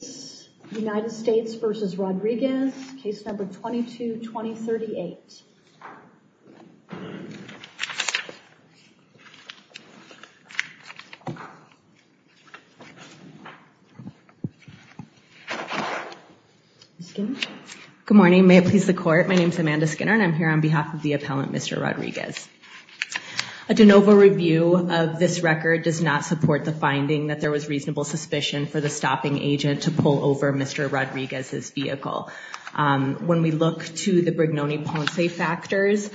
case number 22-2038. Good morning may it please the court my name is Amanda Skinner and I'm here on behalf of the appellant Mr. Rodriguez. A de novo review of this record does not support the finding that there was reasonable suspicion for the stopping agent to pull over Mr. Rodriguez's vehicle. When we look to the Brignone-Ponce factors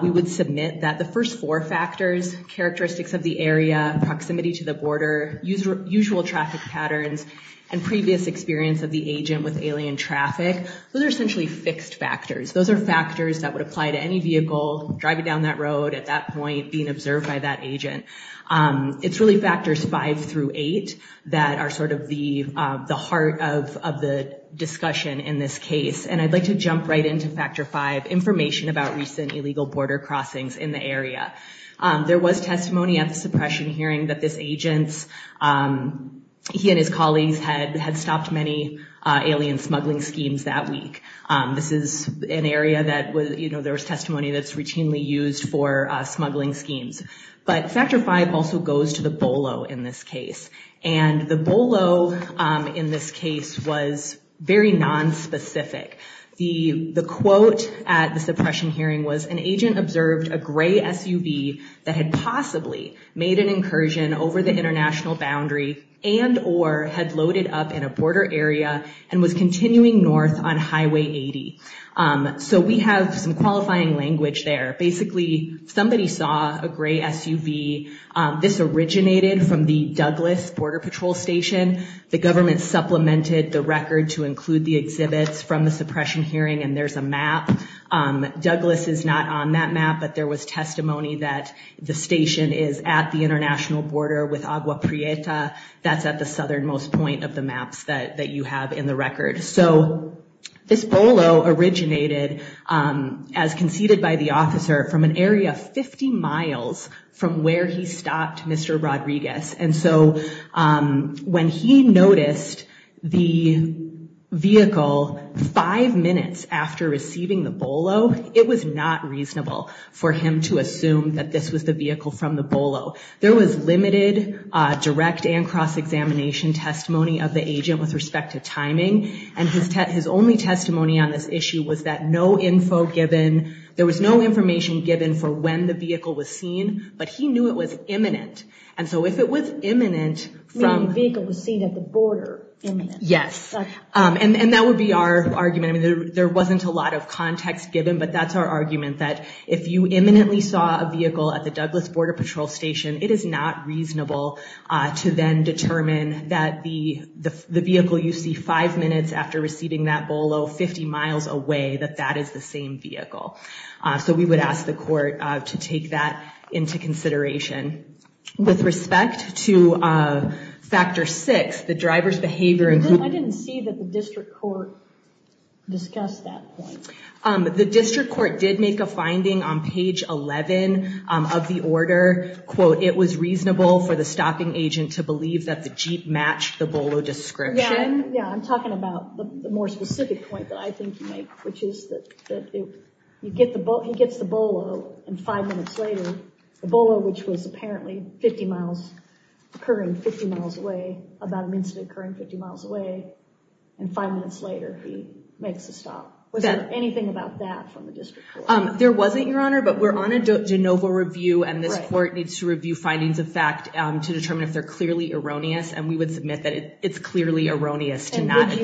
we would submit that the first four factors, characteristics of the area, proximity to the border, usual traffic patterns, and previous experience of the agent with alien traffic, those are essentially fixed factors. Those are factors that would apply to any vehicle driving down that road at that point being observed by that agent. It's really factors five through eight that are sort of the heart of the discussion in this case and I'd like to jump right into factor five information about recent illegal border crossings in the area. There was testimony at the suppression hearing that this agents, he and his colleagues had stopped many alien smuggling schemes that week. This is an area that there's testimony that's routinely used for smuggling schemes. But factor five also goes to the BOLO in this case and the BOLO in this case was very non-specific. The quote at the suppression hearing was an agent observed a gray SUV that had possibly made an incursion over the international boundary and or had loaded up in a border area and was continuing north on some qualifying language there. Basically somebody saw a gray SUV. This originated from the Douglas Border Patrol Station. The government supplemented the record to include the exhibits from the suppression hearing and there's a map. Douglas is not on that map but there was testimony that the station is at the international border with Agua Prieta. That's at the southernmost point of the maps that you have in the record. So this BOLO originated as conceded by the officer from an area 50 miles from where he stopped Mr. Rodriguez and so when he noticed the vehicle five minutes after receiving the BOLO it was not reasonable for him to assume that this was the vehicle from the BOLO. There was limited direct and cross-examination testimony of the agent with respect to timing and his only testimony on this issue was that no info given, there was no information given for when the vehicle was seen but he knew it was imminent and so if it was imminent from vehicle was seen at the border. Yes and that would be our argument. I mean there wasn't a lot of context given but that's our argument that if you imminently saw a vehicle at the Douglas Border Patrol Station it is not reasonable to then determine that the vehicle you see five minutes after receiving that BOLO 50 miles away that that is the same vehicle. So we would ask the court to take that into consideration. With respect to factor six, the driver's behavior. I didn't see that the district court discussed that. The district court did make a finding on page 11 of the order quote it was reasonable for the stopping agent to believe that the Jeep matched the BOLO description. Yeah I'm which is that you get the boat he gets the BOLO and five minutes later the BOLO which was apparently 50 miles occurring 50 miles away about an incident occurring 50 miles away and five minutes later he makes a stop. Was there anything about that from the district court? There wasn't your honor but we're on a de novo review and this court needs to review findings of fact to determine if they're clearly erroneous and we would submit that it's clearly erroneous to not I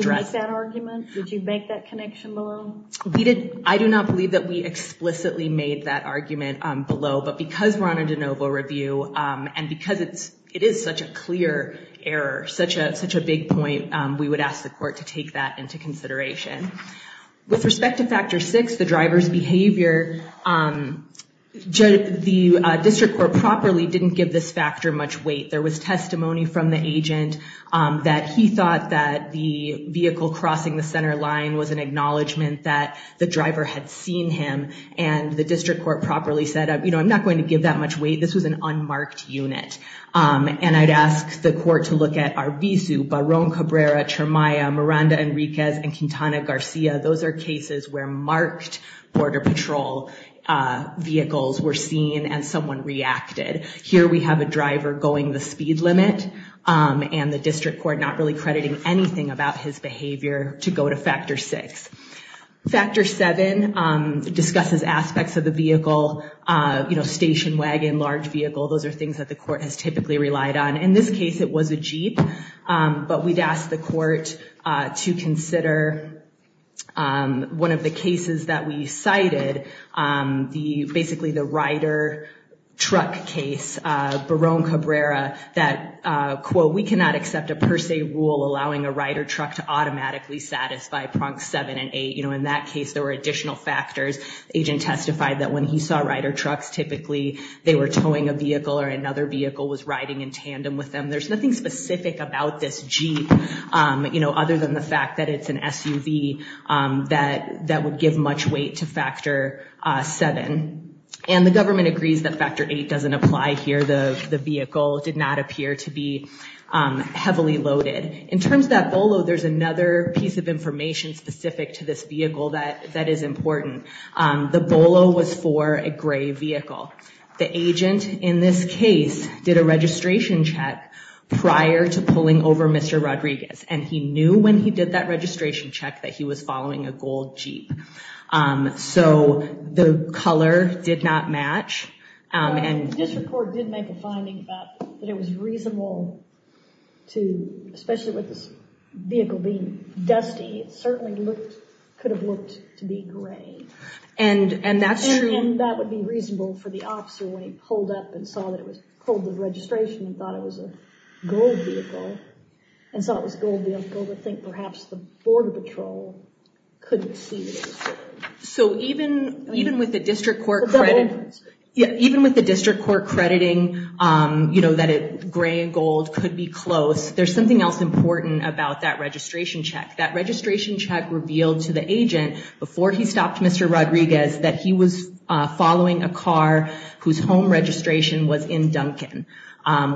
do not believe that we explicitly made that argument below but because we're on a de novo review and because it's it is such a clear error such a such a big point we would ask the court to take that into consideration. With respect to factor six the driver's behavior the district court properly didn't give this factor much weight. There was testimony from the agent that he thought that the acknowledgment that the driver had seen him and the district court properly said you know I'm not going to give that much weight this was an unmarked unit and I'd ask the court to look at Arvizu, Barron Cabrera, Chermaya, Miranda Enriquez and Quintana Garcia those are cases where marked border patrol vehicles were seen and someone reacted. Here we have a driver going the speed limit and the district court not really crediting anything about his behavior to go to factor six. Factor seven discusses aspects of the vehicle you know station wagon large vehicle those are things that the court has typically relied on in this case it was a Jeep but we'd ask the court to consider one of the cases that we cited the basically the rider truck case Barron Cabrera that quote we cannot accept a per se rule allowing a rider truck to automatically satisfy prongs seven and eight you know in that case there were additional factors. Agent testified that when he saw rider trucks typically they were towing a vehicle or another vehicle was riding in tandem with them there's nothing specific about this Jeep you know other than the fact that it's an SUV that that would give much weight to factor seven and the government agrees that factor eight doesn't apply here the the vehicle did not appear to be heavily loaded. In terms of that Bolo there's another piece of information specific to this vehicle that that is important the Bolo was for a gray vehicle the agent in this case did a registration check prior to pulling over Mr. Rodriguez and he knew when he did that registration check that he was following a gold Jeep so the vehicle being dusty it certainly looked could have looked to be gray and and that's true and that would be reasonable for the officer when he pulled up and saw that it was pulled the registration and thought it was a gold vehicle and saw it was gold vehicle to think perhaps the border patrol couldn't see it. So even even with the district court credit yeah even with the district court crediting you know that it gray and gold could be close there's something else important about that registration check that registration check revealed to the agent before he stopped Mr. Rodriguez that he was following a car whose home registration was in Duncan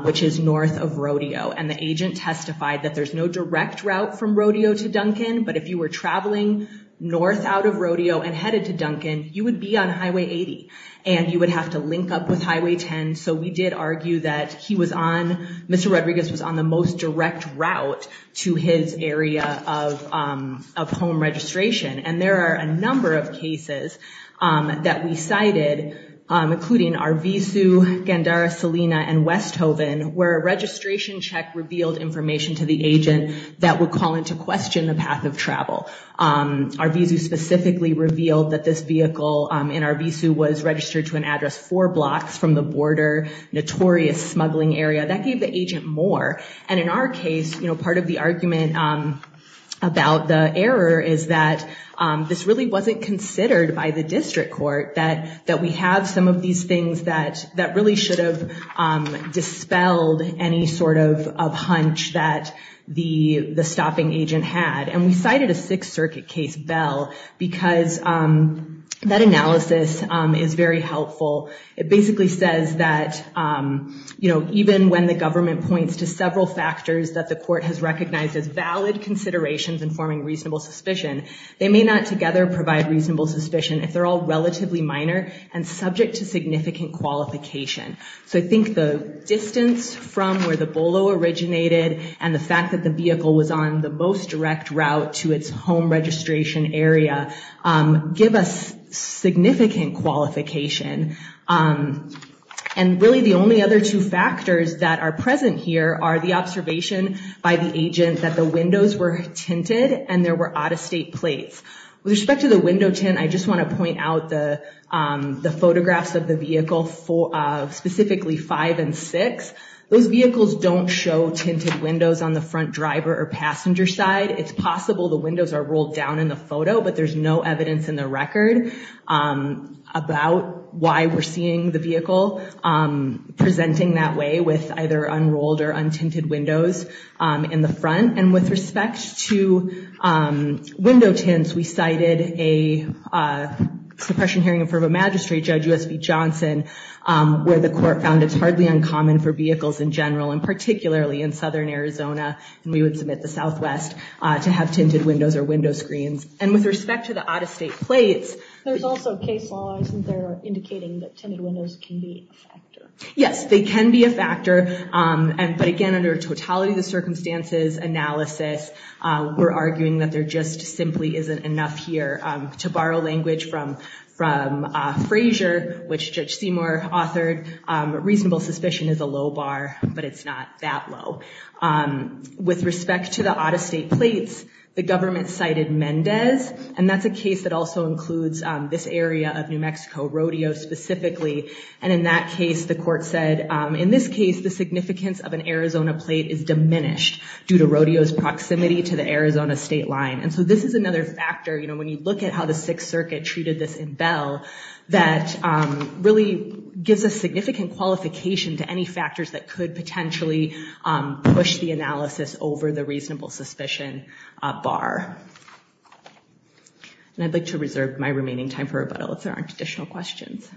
which is north of Rodeo and the agent testified that there's no direct route from Rodeo to Duncan but if you were traveling north out of Rodeo and headed to Duncan you would be on highway 80 and you would have to link up with highway 10 so we did argue that he was on Mr. Rodriguez was on the most direct route to his area of home registration and there are a number of cases that we cited including Arvizu, Gandara, Salina and Westhoven where a registration check revealed information to the agent that would call into question the path of travel. Arvizu specifically revealed that this vehicle in Arvizu was registered to an address four blocks from the border notorious smuggling area that gave the agent more and in our case you know part of the argument about the error is that this really wasn't considered by the district court that that we have some of these things that that really should have dispelled any sort of of hunch that the the stopping agent had and we cited a Sixth Circuit case bell because that analysis is very helpful it basically says that you know even when the government points to several factors that the court has recognized as valid considerations informing reasonable suspicion they may not together provide reasonable suspicion if they're all relatively minor and subject to significant qualification so I think the distance from where the Bolo originated and the fact that the vehicle was on the most direct route to its home registration area give us significant qualification and really the only other two factors that are present here are the observation by the agent that the windows were tinted and there were out-of-state plates with respect to the window tint I just want to point out the the photographs of the vehicle for specifically five and six those vehicles don't show tinted windows on the front driver or passenger side it's possible the windows are rolled down in the photo but there's no evidence in the record about why we're seeing the vehicle presenting that way with either unrolled or untinted windows in the front and with respect to window tints we cited a suppression hearing in front of a magistrate judge USB Johnson where the court found it's hardly uncommon for vehicles in general and particularly in southern Arizona and we would submit the southwest to have tinted windows or There's also case law isn't there indicating that tinted windows can be a factor? Yes they can be a factor and but again under totality of the circumstances analysis we're arguing that there just simply isn't enough here to borrow language from from Frazier which Judge Seymour authored reasonable suspicion is a low bar but it's not that low with respect to the out-of-state plates the that's a case that also includes this area of New Mexico rodeo specifically and in that case the court said in this case the significance of an Arizona plate is diminished due to rodeos proximity to the Arizona state line and so this is another factor you know when you look at how the Sixth Circuit treated this in Bell that really gives a significant qualification to any factors that could potentially push the analysis over the reasonable suspicion bar and I'd like to reserve my remaining time for rebuttal if there aren't additional questions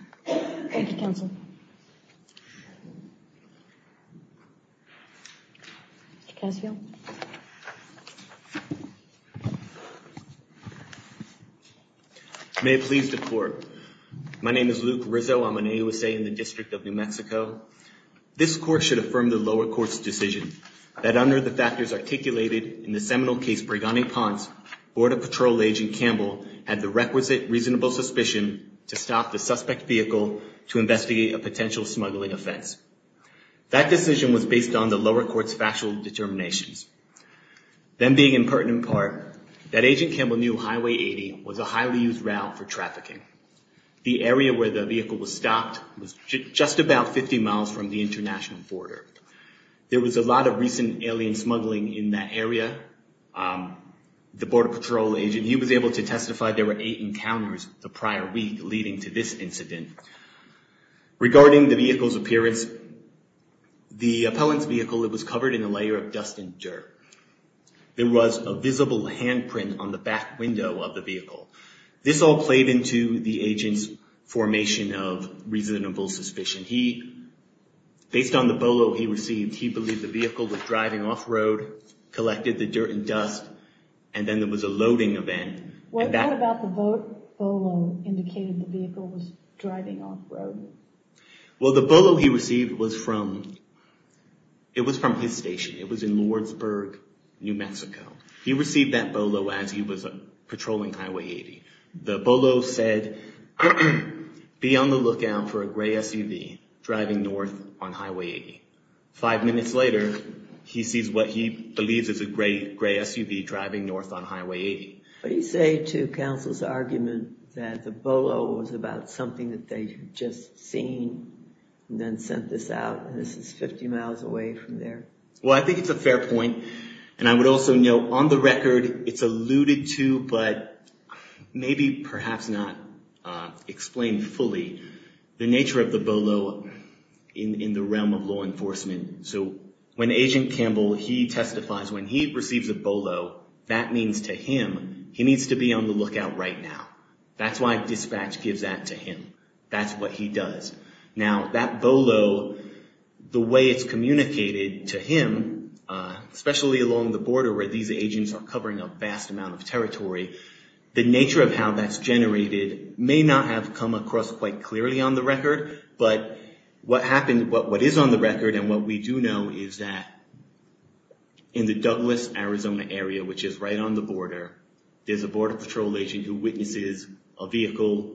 may please the court my name is Luke Rizzo I'm an AUSA in the District of New Mexico this court should affirm the lower courts decision that under the factors articulated in the seminal case Brigani-Ponce border patrol agent Campbell had the requisite reasonable suspicion to stop the suspect vehicle to investigate a potential smuggling offense that decision was based on the lower courts factual determinations then being in pertinent part that agent Campbell knew highway 80 was a highly used route for trafficking the area where the vehicle was stopped was just about 50 miles from the international border there was a lot of recent alien smuggling in that area the border patrol agent he was able to testify there were eight encounters the prior week leading to this incident regarding the vehicle's appearance the appellant's vehicle it was covered in a layer of dust and dirt there was a visible handprint on the back window of the vehicle this all played into the agent's formation of reasonable suspicion he based on the bolo he received he believed the vehicle was driving off-road collected the dirt and dust and then there was a loading event well the bolo he received was from it was from his station it was in Lordsburg New Mexico he received that bolo as he was a patrolling highway 80 the bolo said be on the lookout for a gray SUV driving north on highway 85 minutes later he sees what he believes is a great gray SUV driving north on highway 80 but he say to counsel's argument that the bolo was about something that they just seen and then sent this out this is 50 miles away from there well I think it's a fair point and I would also know on the record it's alluded to but maybe perhaps not explained fully the nature of the bolo in in the realm of law enforcement so when agent Campbell he testifies when he receives a bolo that means to him he needs to be on the lookout right now that's why dispatch gives that to him that's what he does now that bolo the way it's communicated to him especially along the border where these agents are covering a vast amount of territory the nature of how that's generated may not have come across quite clearly on the record but what happened what what is on the record and what we do know is that in the Douglas Arizona area which is right on the border there's a border patrol agent who witnesses a vehicle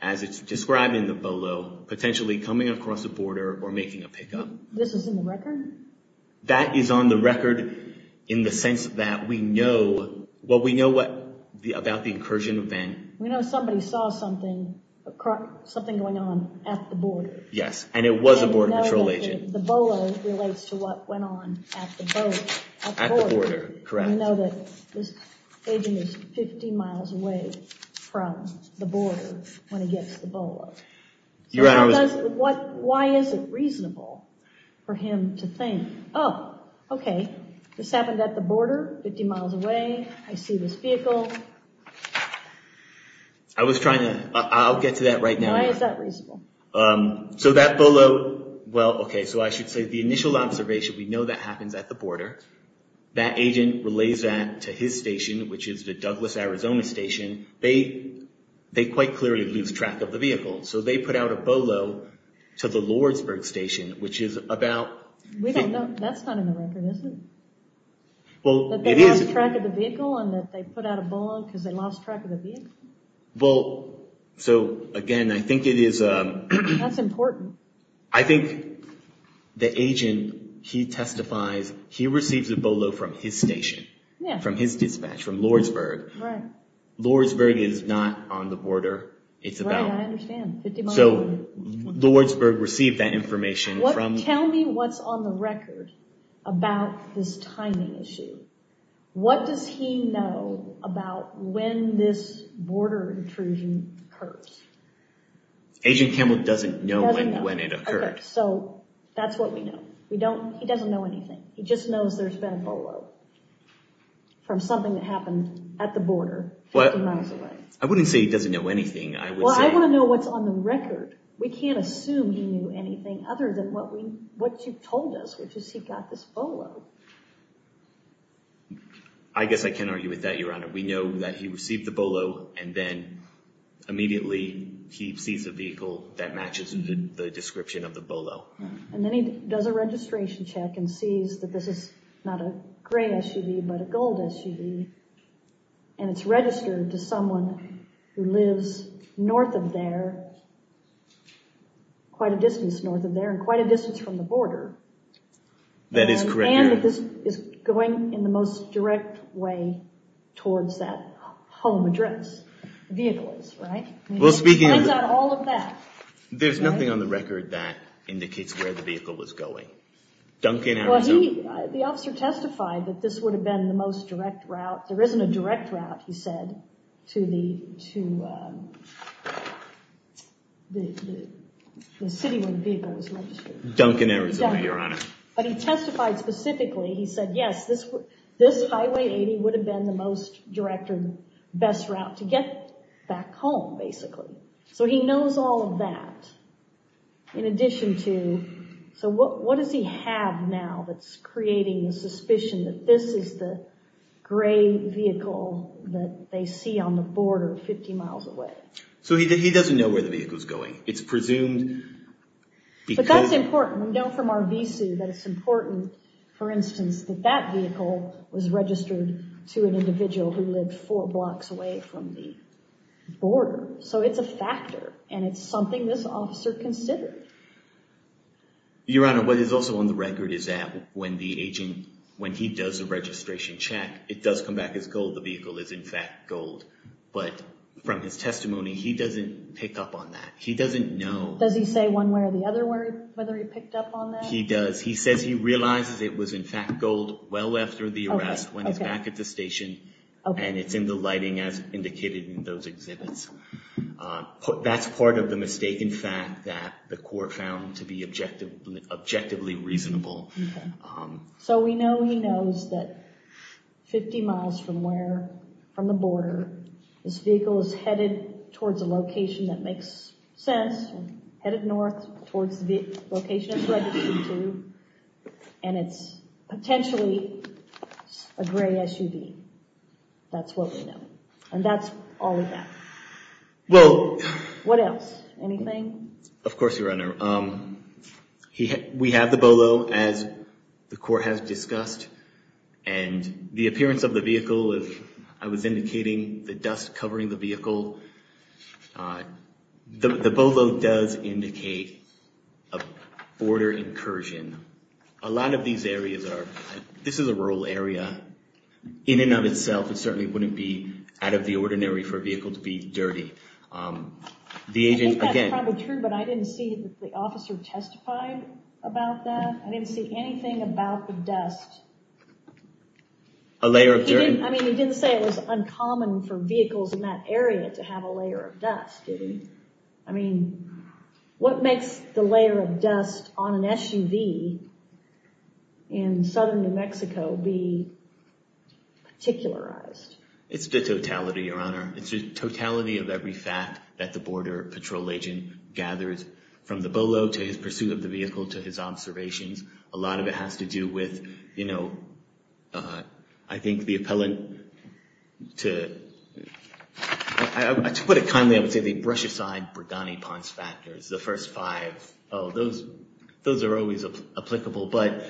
as it's described in the bolo potentially coming across the border or making a pickup this is in the record that is on the record in the sense that we know what we know what the about the incursion event we know somebody saw something something going on at the border yes and it was a border patrol agent the bolo relates to what went on at the border correct you know that this agent is 50 miles away from the border when he gets the bolo why is it reasonable for him to think oh okay this happened at the border 50 miles away I see this vehicle I was trying to I'll get to that right now so that bolo well okay so I should say the initial observation we know that happens at the border that agent relays that to his station which is the Douglas Arizona station they they quite clearly lose track of the vehicle so they put out a bolo to the Lordsburg station which is about well it is a track of the vehicle and that they put out a bolo because they lost track of the vehicle well so again I think it is a that's important I think the agent he testifies he receives a bolo from his station from his dispatch from Lordsburg Lordsburg is not on the border it's about so Lordsburg received that information what tell me what's on the record about this timing issue what does he know about when this border intrusion hurts agent Campbell doesn't know when when it occurred so that's what we know we don't he doesn't know anything he just knows there's been a bolo from something that happened at the border but I wouldn't say he doesn't know anything I want to know what's on the record we can't assume he knew anything other than what we what you told us which is he got this bolo I guess I can't argue with that your honor we know that he received the bolo and then immediately he sees a vehicle that matches the description of the bolo and then he does a registration check and sees that this is not a gray SUV but a gold SUV and it's registered to someone who lives north of there quite a distance north of there and quite a distance from the border that is correct and this is going in the most direct way towards that home address vehicles right well speaking on all of that there's nothing on the record that indicates where the vehicle was going Duncan the officer testified that this would have been the most direct route there isn't a direct route he said to the to the city when people Duncan Arizona your honor but he testified specifically he said yes this this highway 80 would have been the most directed best route to get back home basically so he knows all of that in addition to so what what does he have now that's creating a suspicion that this is the gray vehicle that they see on the border 50 miles away so he doesn't know where the vehicle is going it's presumed but that's important we know from our visu that it's important for instance that that vehicle was registered to an individual who lived four blocks away from the border so it's a factor and it's something this officer considered your honor what is also on the record is that when the agent when he does a registration check it does come back as gold the vehicle is in fact gold but from his testimony he doesn't pick up on that he doesn't know does he one where the other word whether he picked up on that he does he says he realizes it was in fact gold well after the arrest when he's back at the station and it's in the lighting as indicated in those exhibits put that's part of the mistaken fact that the court found to be objective objectively reasonable so we know he knows that 50 miles from where from the border this vehicle is headed towards a location that makes sense headed north towards the location and it's potentially a gray SUV that's what we know and that's all we have well what else anything of course your honor um he we have the Bolo as the court has discussed and the appearance of the vehicle if I was indicating the dust covering the vehicle the Bolo does indicate a border incursion a lot of these areas are this is a rural area in and of itself it certainly wouldn't be out of the ordinary for a vehicle to be dirty the agent again but I didn't see the officer testified about that I didn't see anything about the dust a didn't say it was uncommon for vehicles in that area to have a layer of dust I mean what makes the layer of dust on an SUV in southern New Mexico be particularized it's the totality your honor it's just totality of every fact that the border patrol agent gathers from the Bolo to his pursuit of the vehicle to his observations a lot of it has to do with you know I think the compelling to put it kindly I would say they brush aside Bergani-Ponce factors the first five oh those those are always applicable but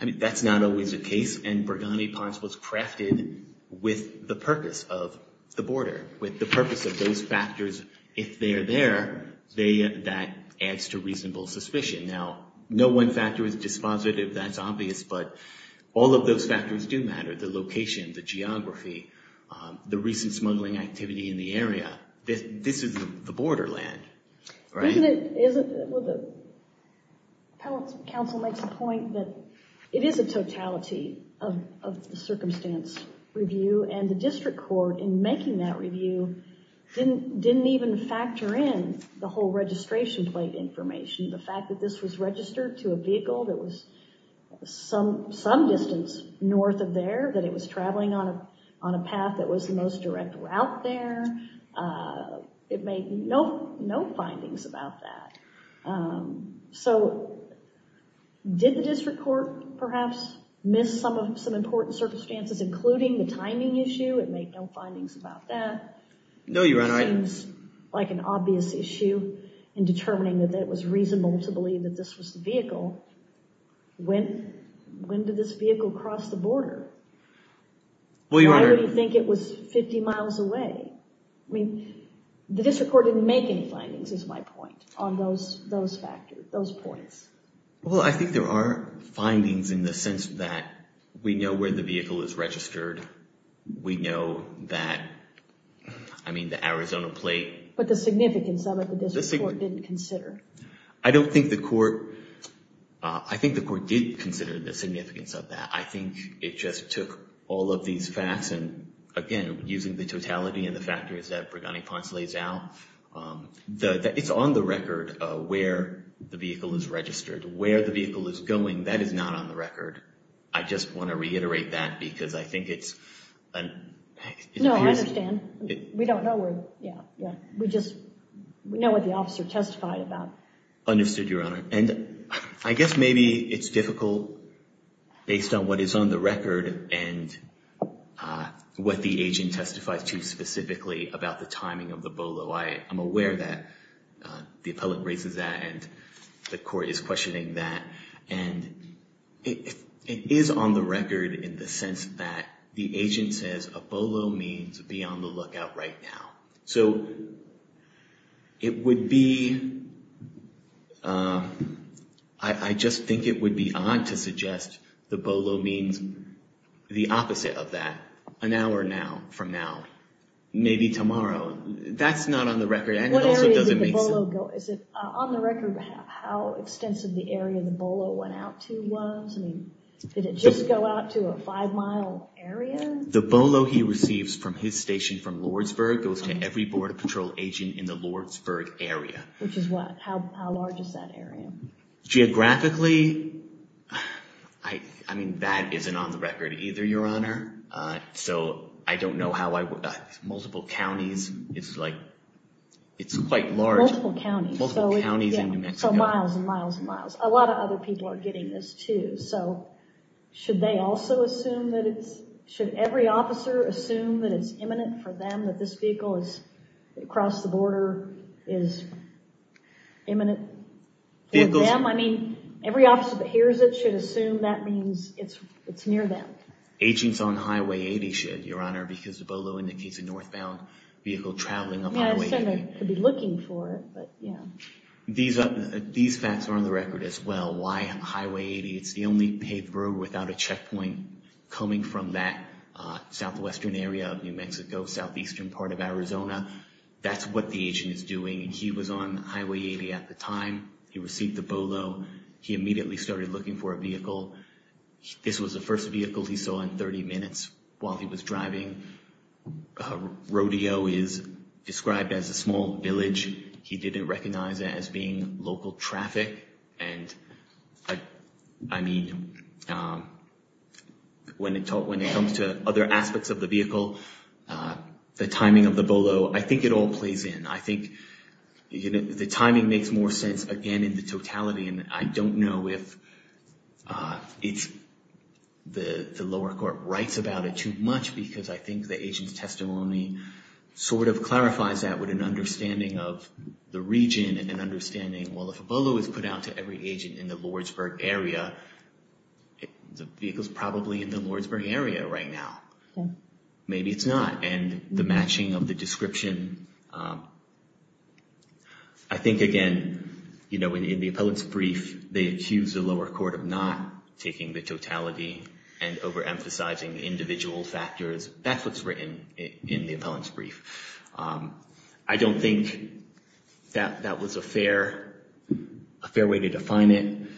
I mean that's not always a case and Bergani-Ponce was crafted with the purpose of the border with the purpose of those factors if they are there they that adds to reasonable suspicion now no one factor is dispositive that's obvious but all of those factors do matter the location the geography the recent smuggling activity in the area that this is the borderland right is it the council makes a point that it is a totality of the circumstance review and the district court in making that review didn't didn't even factor in the whole registration plate information the fact that this was registered to a distance north of there that it was traveling on a on a path that was the most direct route there it made no no findings about that so did the district court perhaps miss some of some important circumstances including the timing issue and make no findings about that no you're right like an obvious issue in determining that that was reasonable to believe that this was the when when did this vehicle cross the border well you already think it was 50 miles away I mean the district court didn't make any findings is my point on those those factors those points well I think there are findings in the sense that we know where the vehicle is registered we know that I mean the Arizona plate but the significance of it the district court didn't consider I don't think the court I think the court did consider the significance of that I think it just took all of these facts and again using the totality and the factors that Brighani Ponce lays out the it's on the record where the vehicle is registered where the vehicle is going that is not on the record I just want to reiterate that because I think it's we don't know where yeah yeah we just know what the officer testified about understood your honor and I guess maybe it's difficult based on what is on the record and what the agent testifies to specifically about the timing of the bolo I am aware that the appellant raises that and the court is questioning that and it is on the record in the sense that the agent says a bolo means beyond the lookout right now so it would be I just think it would be on to suggest the bolo means the opposite of that an hour now from now maybe tomorrow that's not on the record and it doesn't make on the record how extensive the area the bolo went out to was I mean did it just go out to a five-mile area the bolo he receives from his station from Lordsburg goes to every Border Patrol agent in the Lordsburg area which is what how large is that area geographically I I mean that isn't on the record either your honor so I don't know how I would multiple counties it's like it's quite miles and miles and miles a lot of other people are getting this too so should they also assume that it's should every officer assume that it's imminent for them that this vehicle is across the border is imminent yeah I mean every officer that hears it should assume that means it's it's near them agents on Highway 80 should your honor because the bolo indicates a northbound vehicle looking for it but yeah these are these facts are on the record as well why highway 80 it's the only paved road without a checkpoint coming from that southwestern area of New Mexico southeastern part of Arizona that's what the agent is doing and he was on highway 80 at the time he received the bolo he immediately started looking for a vehicle this was the first vehicle he was driving rodeo is described as a small village he didn't recognize it as being local traffic and I mean when it taught when it comes to other aspects of the vehicle the timing of the bolo I think it all plays in I think you know the timing makes more sense again in the totality and I don't know if it's the lower court writes about it too much because I think the agent's testimony sort of clarifies that with an understanding of the region and an understanding well if a bolo is put out to every agent in the Lordsburg area the vehicles probably in the Lordsburg area right now maybe it's not and the matching of the description I think again you know in the appellate's brief they accused the lower court of not taking the totality and overemphasizing individual factors that's what's written in the appellant's brief I don't think that that was a fair a fair way to define it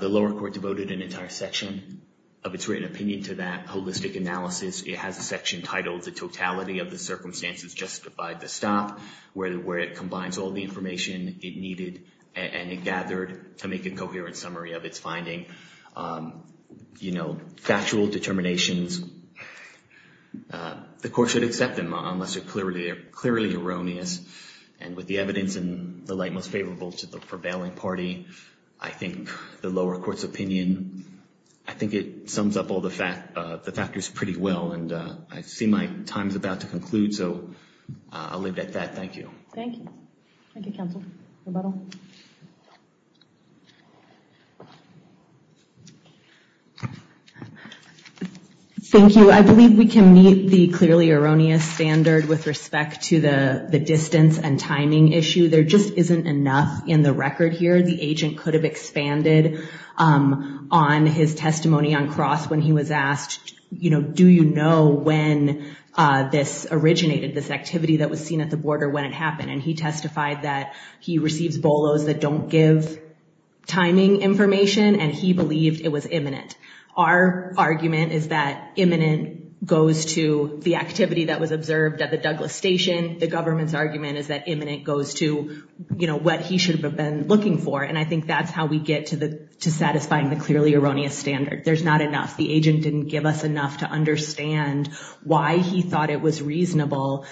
the lower court devoted an entire section of its written opinion to that holistic analysis it has a section titled the totality of the circumstances justified to stop where it combines all the information it needed and it gathered to make a coherent summary of its finding you know factual determinations the court should accept them unless they're clearly clearly erroneous and with the evidence and the light most favorable to the prevailing party I think the lower courts opinion I think it sums up all the fact the factors pretty well and I see my time's out to conclude so I'll leave it at that thank you thank you I believe we can meet the clearly erroneous standard with respect to the the distance and timing issue there just isn't enough in the record here the agent could have expanded on his testimony on cross when he was asked you know do you know when this originated this activity that was seen at the border when it happened and he testified that he receives bolos that don't give timing information and he believed it was imminent our argument is that imminent goes to the activity that was observed at the Douglas station the government's argument is that imminent goes to you know what he should have been looking for and I think that's how we get to the to satisfying the clearly erroneous standard there's not enough the agent didn't give us enough to understand why he thought it was reasonable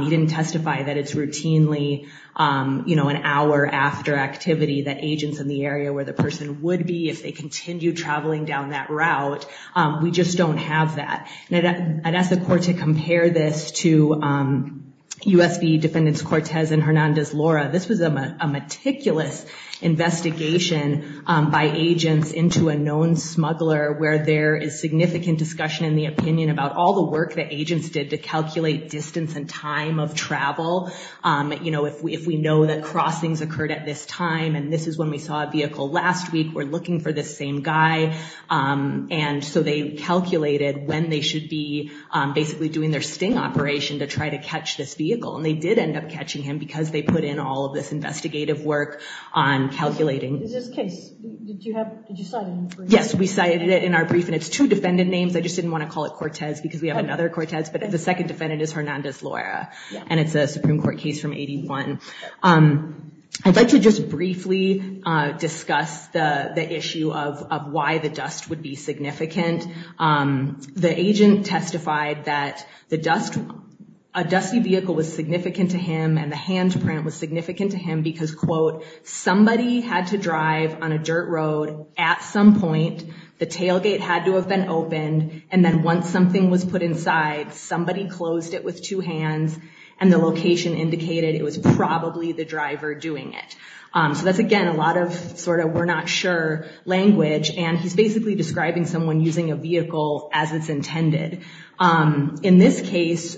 he didn't testify that it's routinely you know an hour after activity that agents in the area where the person would be if they continue traveling down that route we just don't have that I'd ask the court to compare this to USB defendants Cortez and Hernandez Laura this was a meticulous investigation by agents into a known smuggler where there is significant discussion in the opinion about all the work that agents did to calculate distance and time of travel you know if we if we know that crossings occurred at this time and this is when we saw a vehicle last week we're looking for the same guy and so they calculated when they should be basically doing their sting operation to try to catch this vehicle and they did end up catching him because they put in all of this investigative work on calculating yes we cited it in our brief and it's two defendant names I just didn't want to call it Cortez because we have another Cortez but if the second defendant is Hernandez Laura and it's a Supreme Court case from 81 I'd like to just briefly discuss the the issue of why the dust would be significant the agent testified that the dust a dusty vehicle was significant to him and the handprint was significant to him because quote somebody had to drive on a dirt road at some point the tailgate had to have been opened and then once something was put inside somebody closed it with two hands and the location indicated it was probably the driver doing it so that's again a lot of sort of we're not sure language and he's basically describing someone using a vehicle as it's intended in this case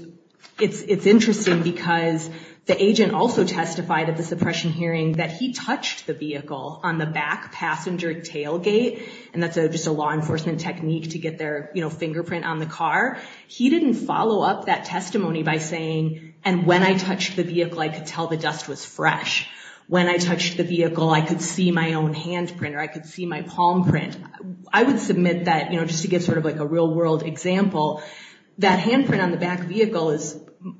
it's it's interesting because the agent also testified at the suppression hearing that he touched the vehicle on the back passenger tailgate and that's a just a law enforcement technique to get their you know fingerprint on the car he didn't follow up that testimony by saying and when I touched the vehicle I could tell the dust was fresh when I touched the vehicle I could see my own handprint or I could see my palm print I would submit that you know just to get sort of like a real-world example that handprint on the back vehicle is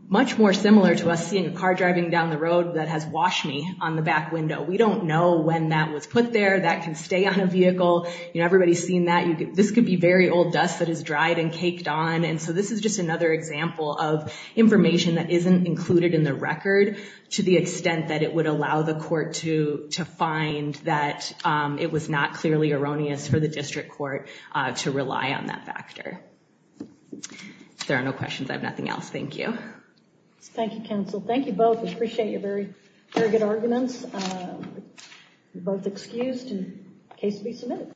much more similar to us seeing a car driving down the road that has washed me on the back window we don't know when that was put there that can stay on a vehicle you know everybody's seen that you could this could be very old dust that is dried and caked on and so this is just another example of information that isn't included in the record to the extent that it would allow the court to to find that it was not clearly erroneous for the district court to rely on that factor there are no questions I have nothing else thank you thank you counsel thank you both appreciate your very very good arguments both excused in case we submit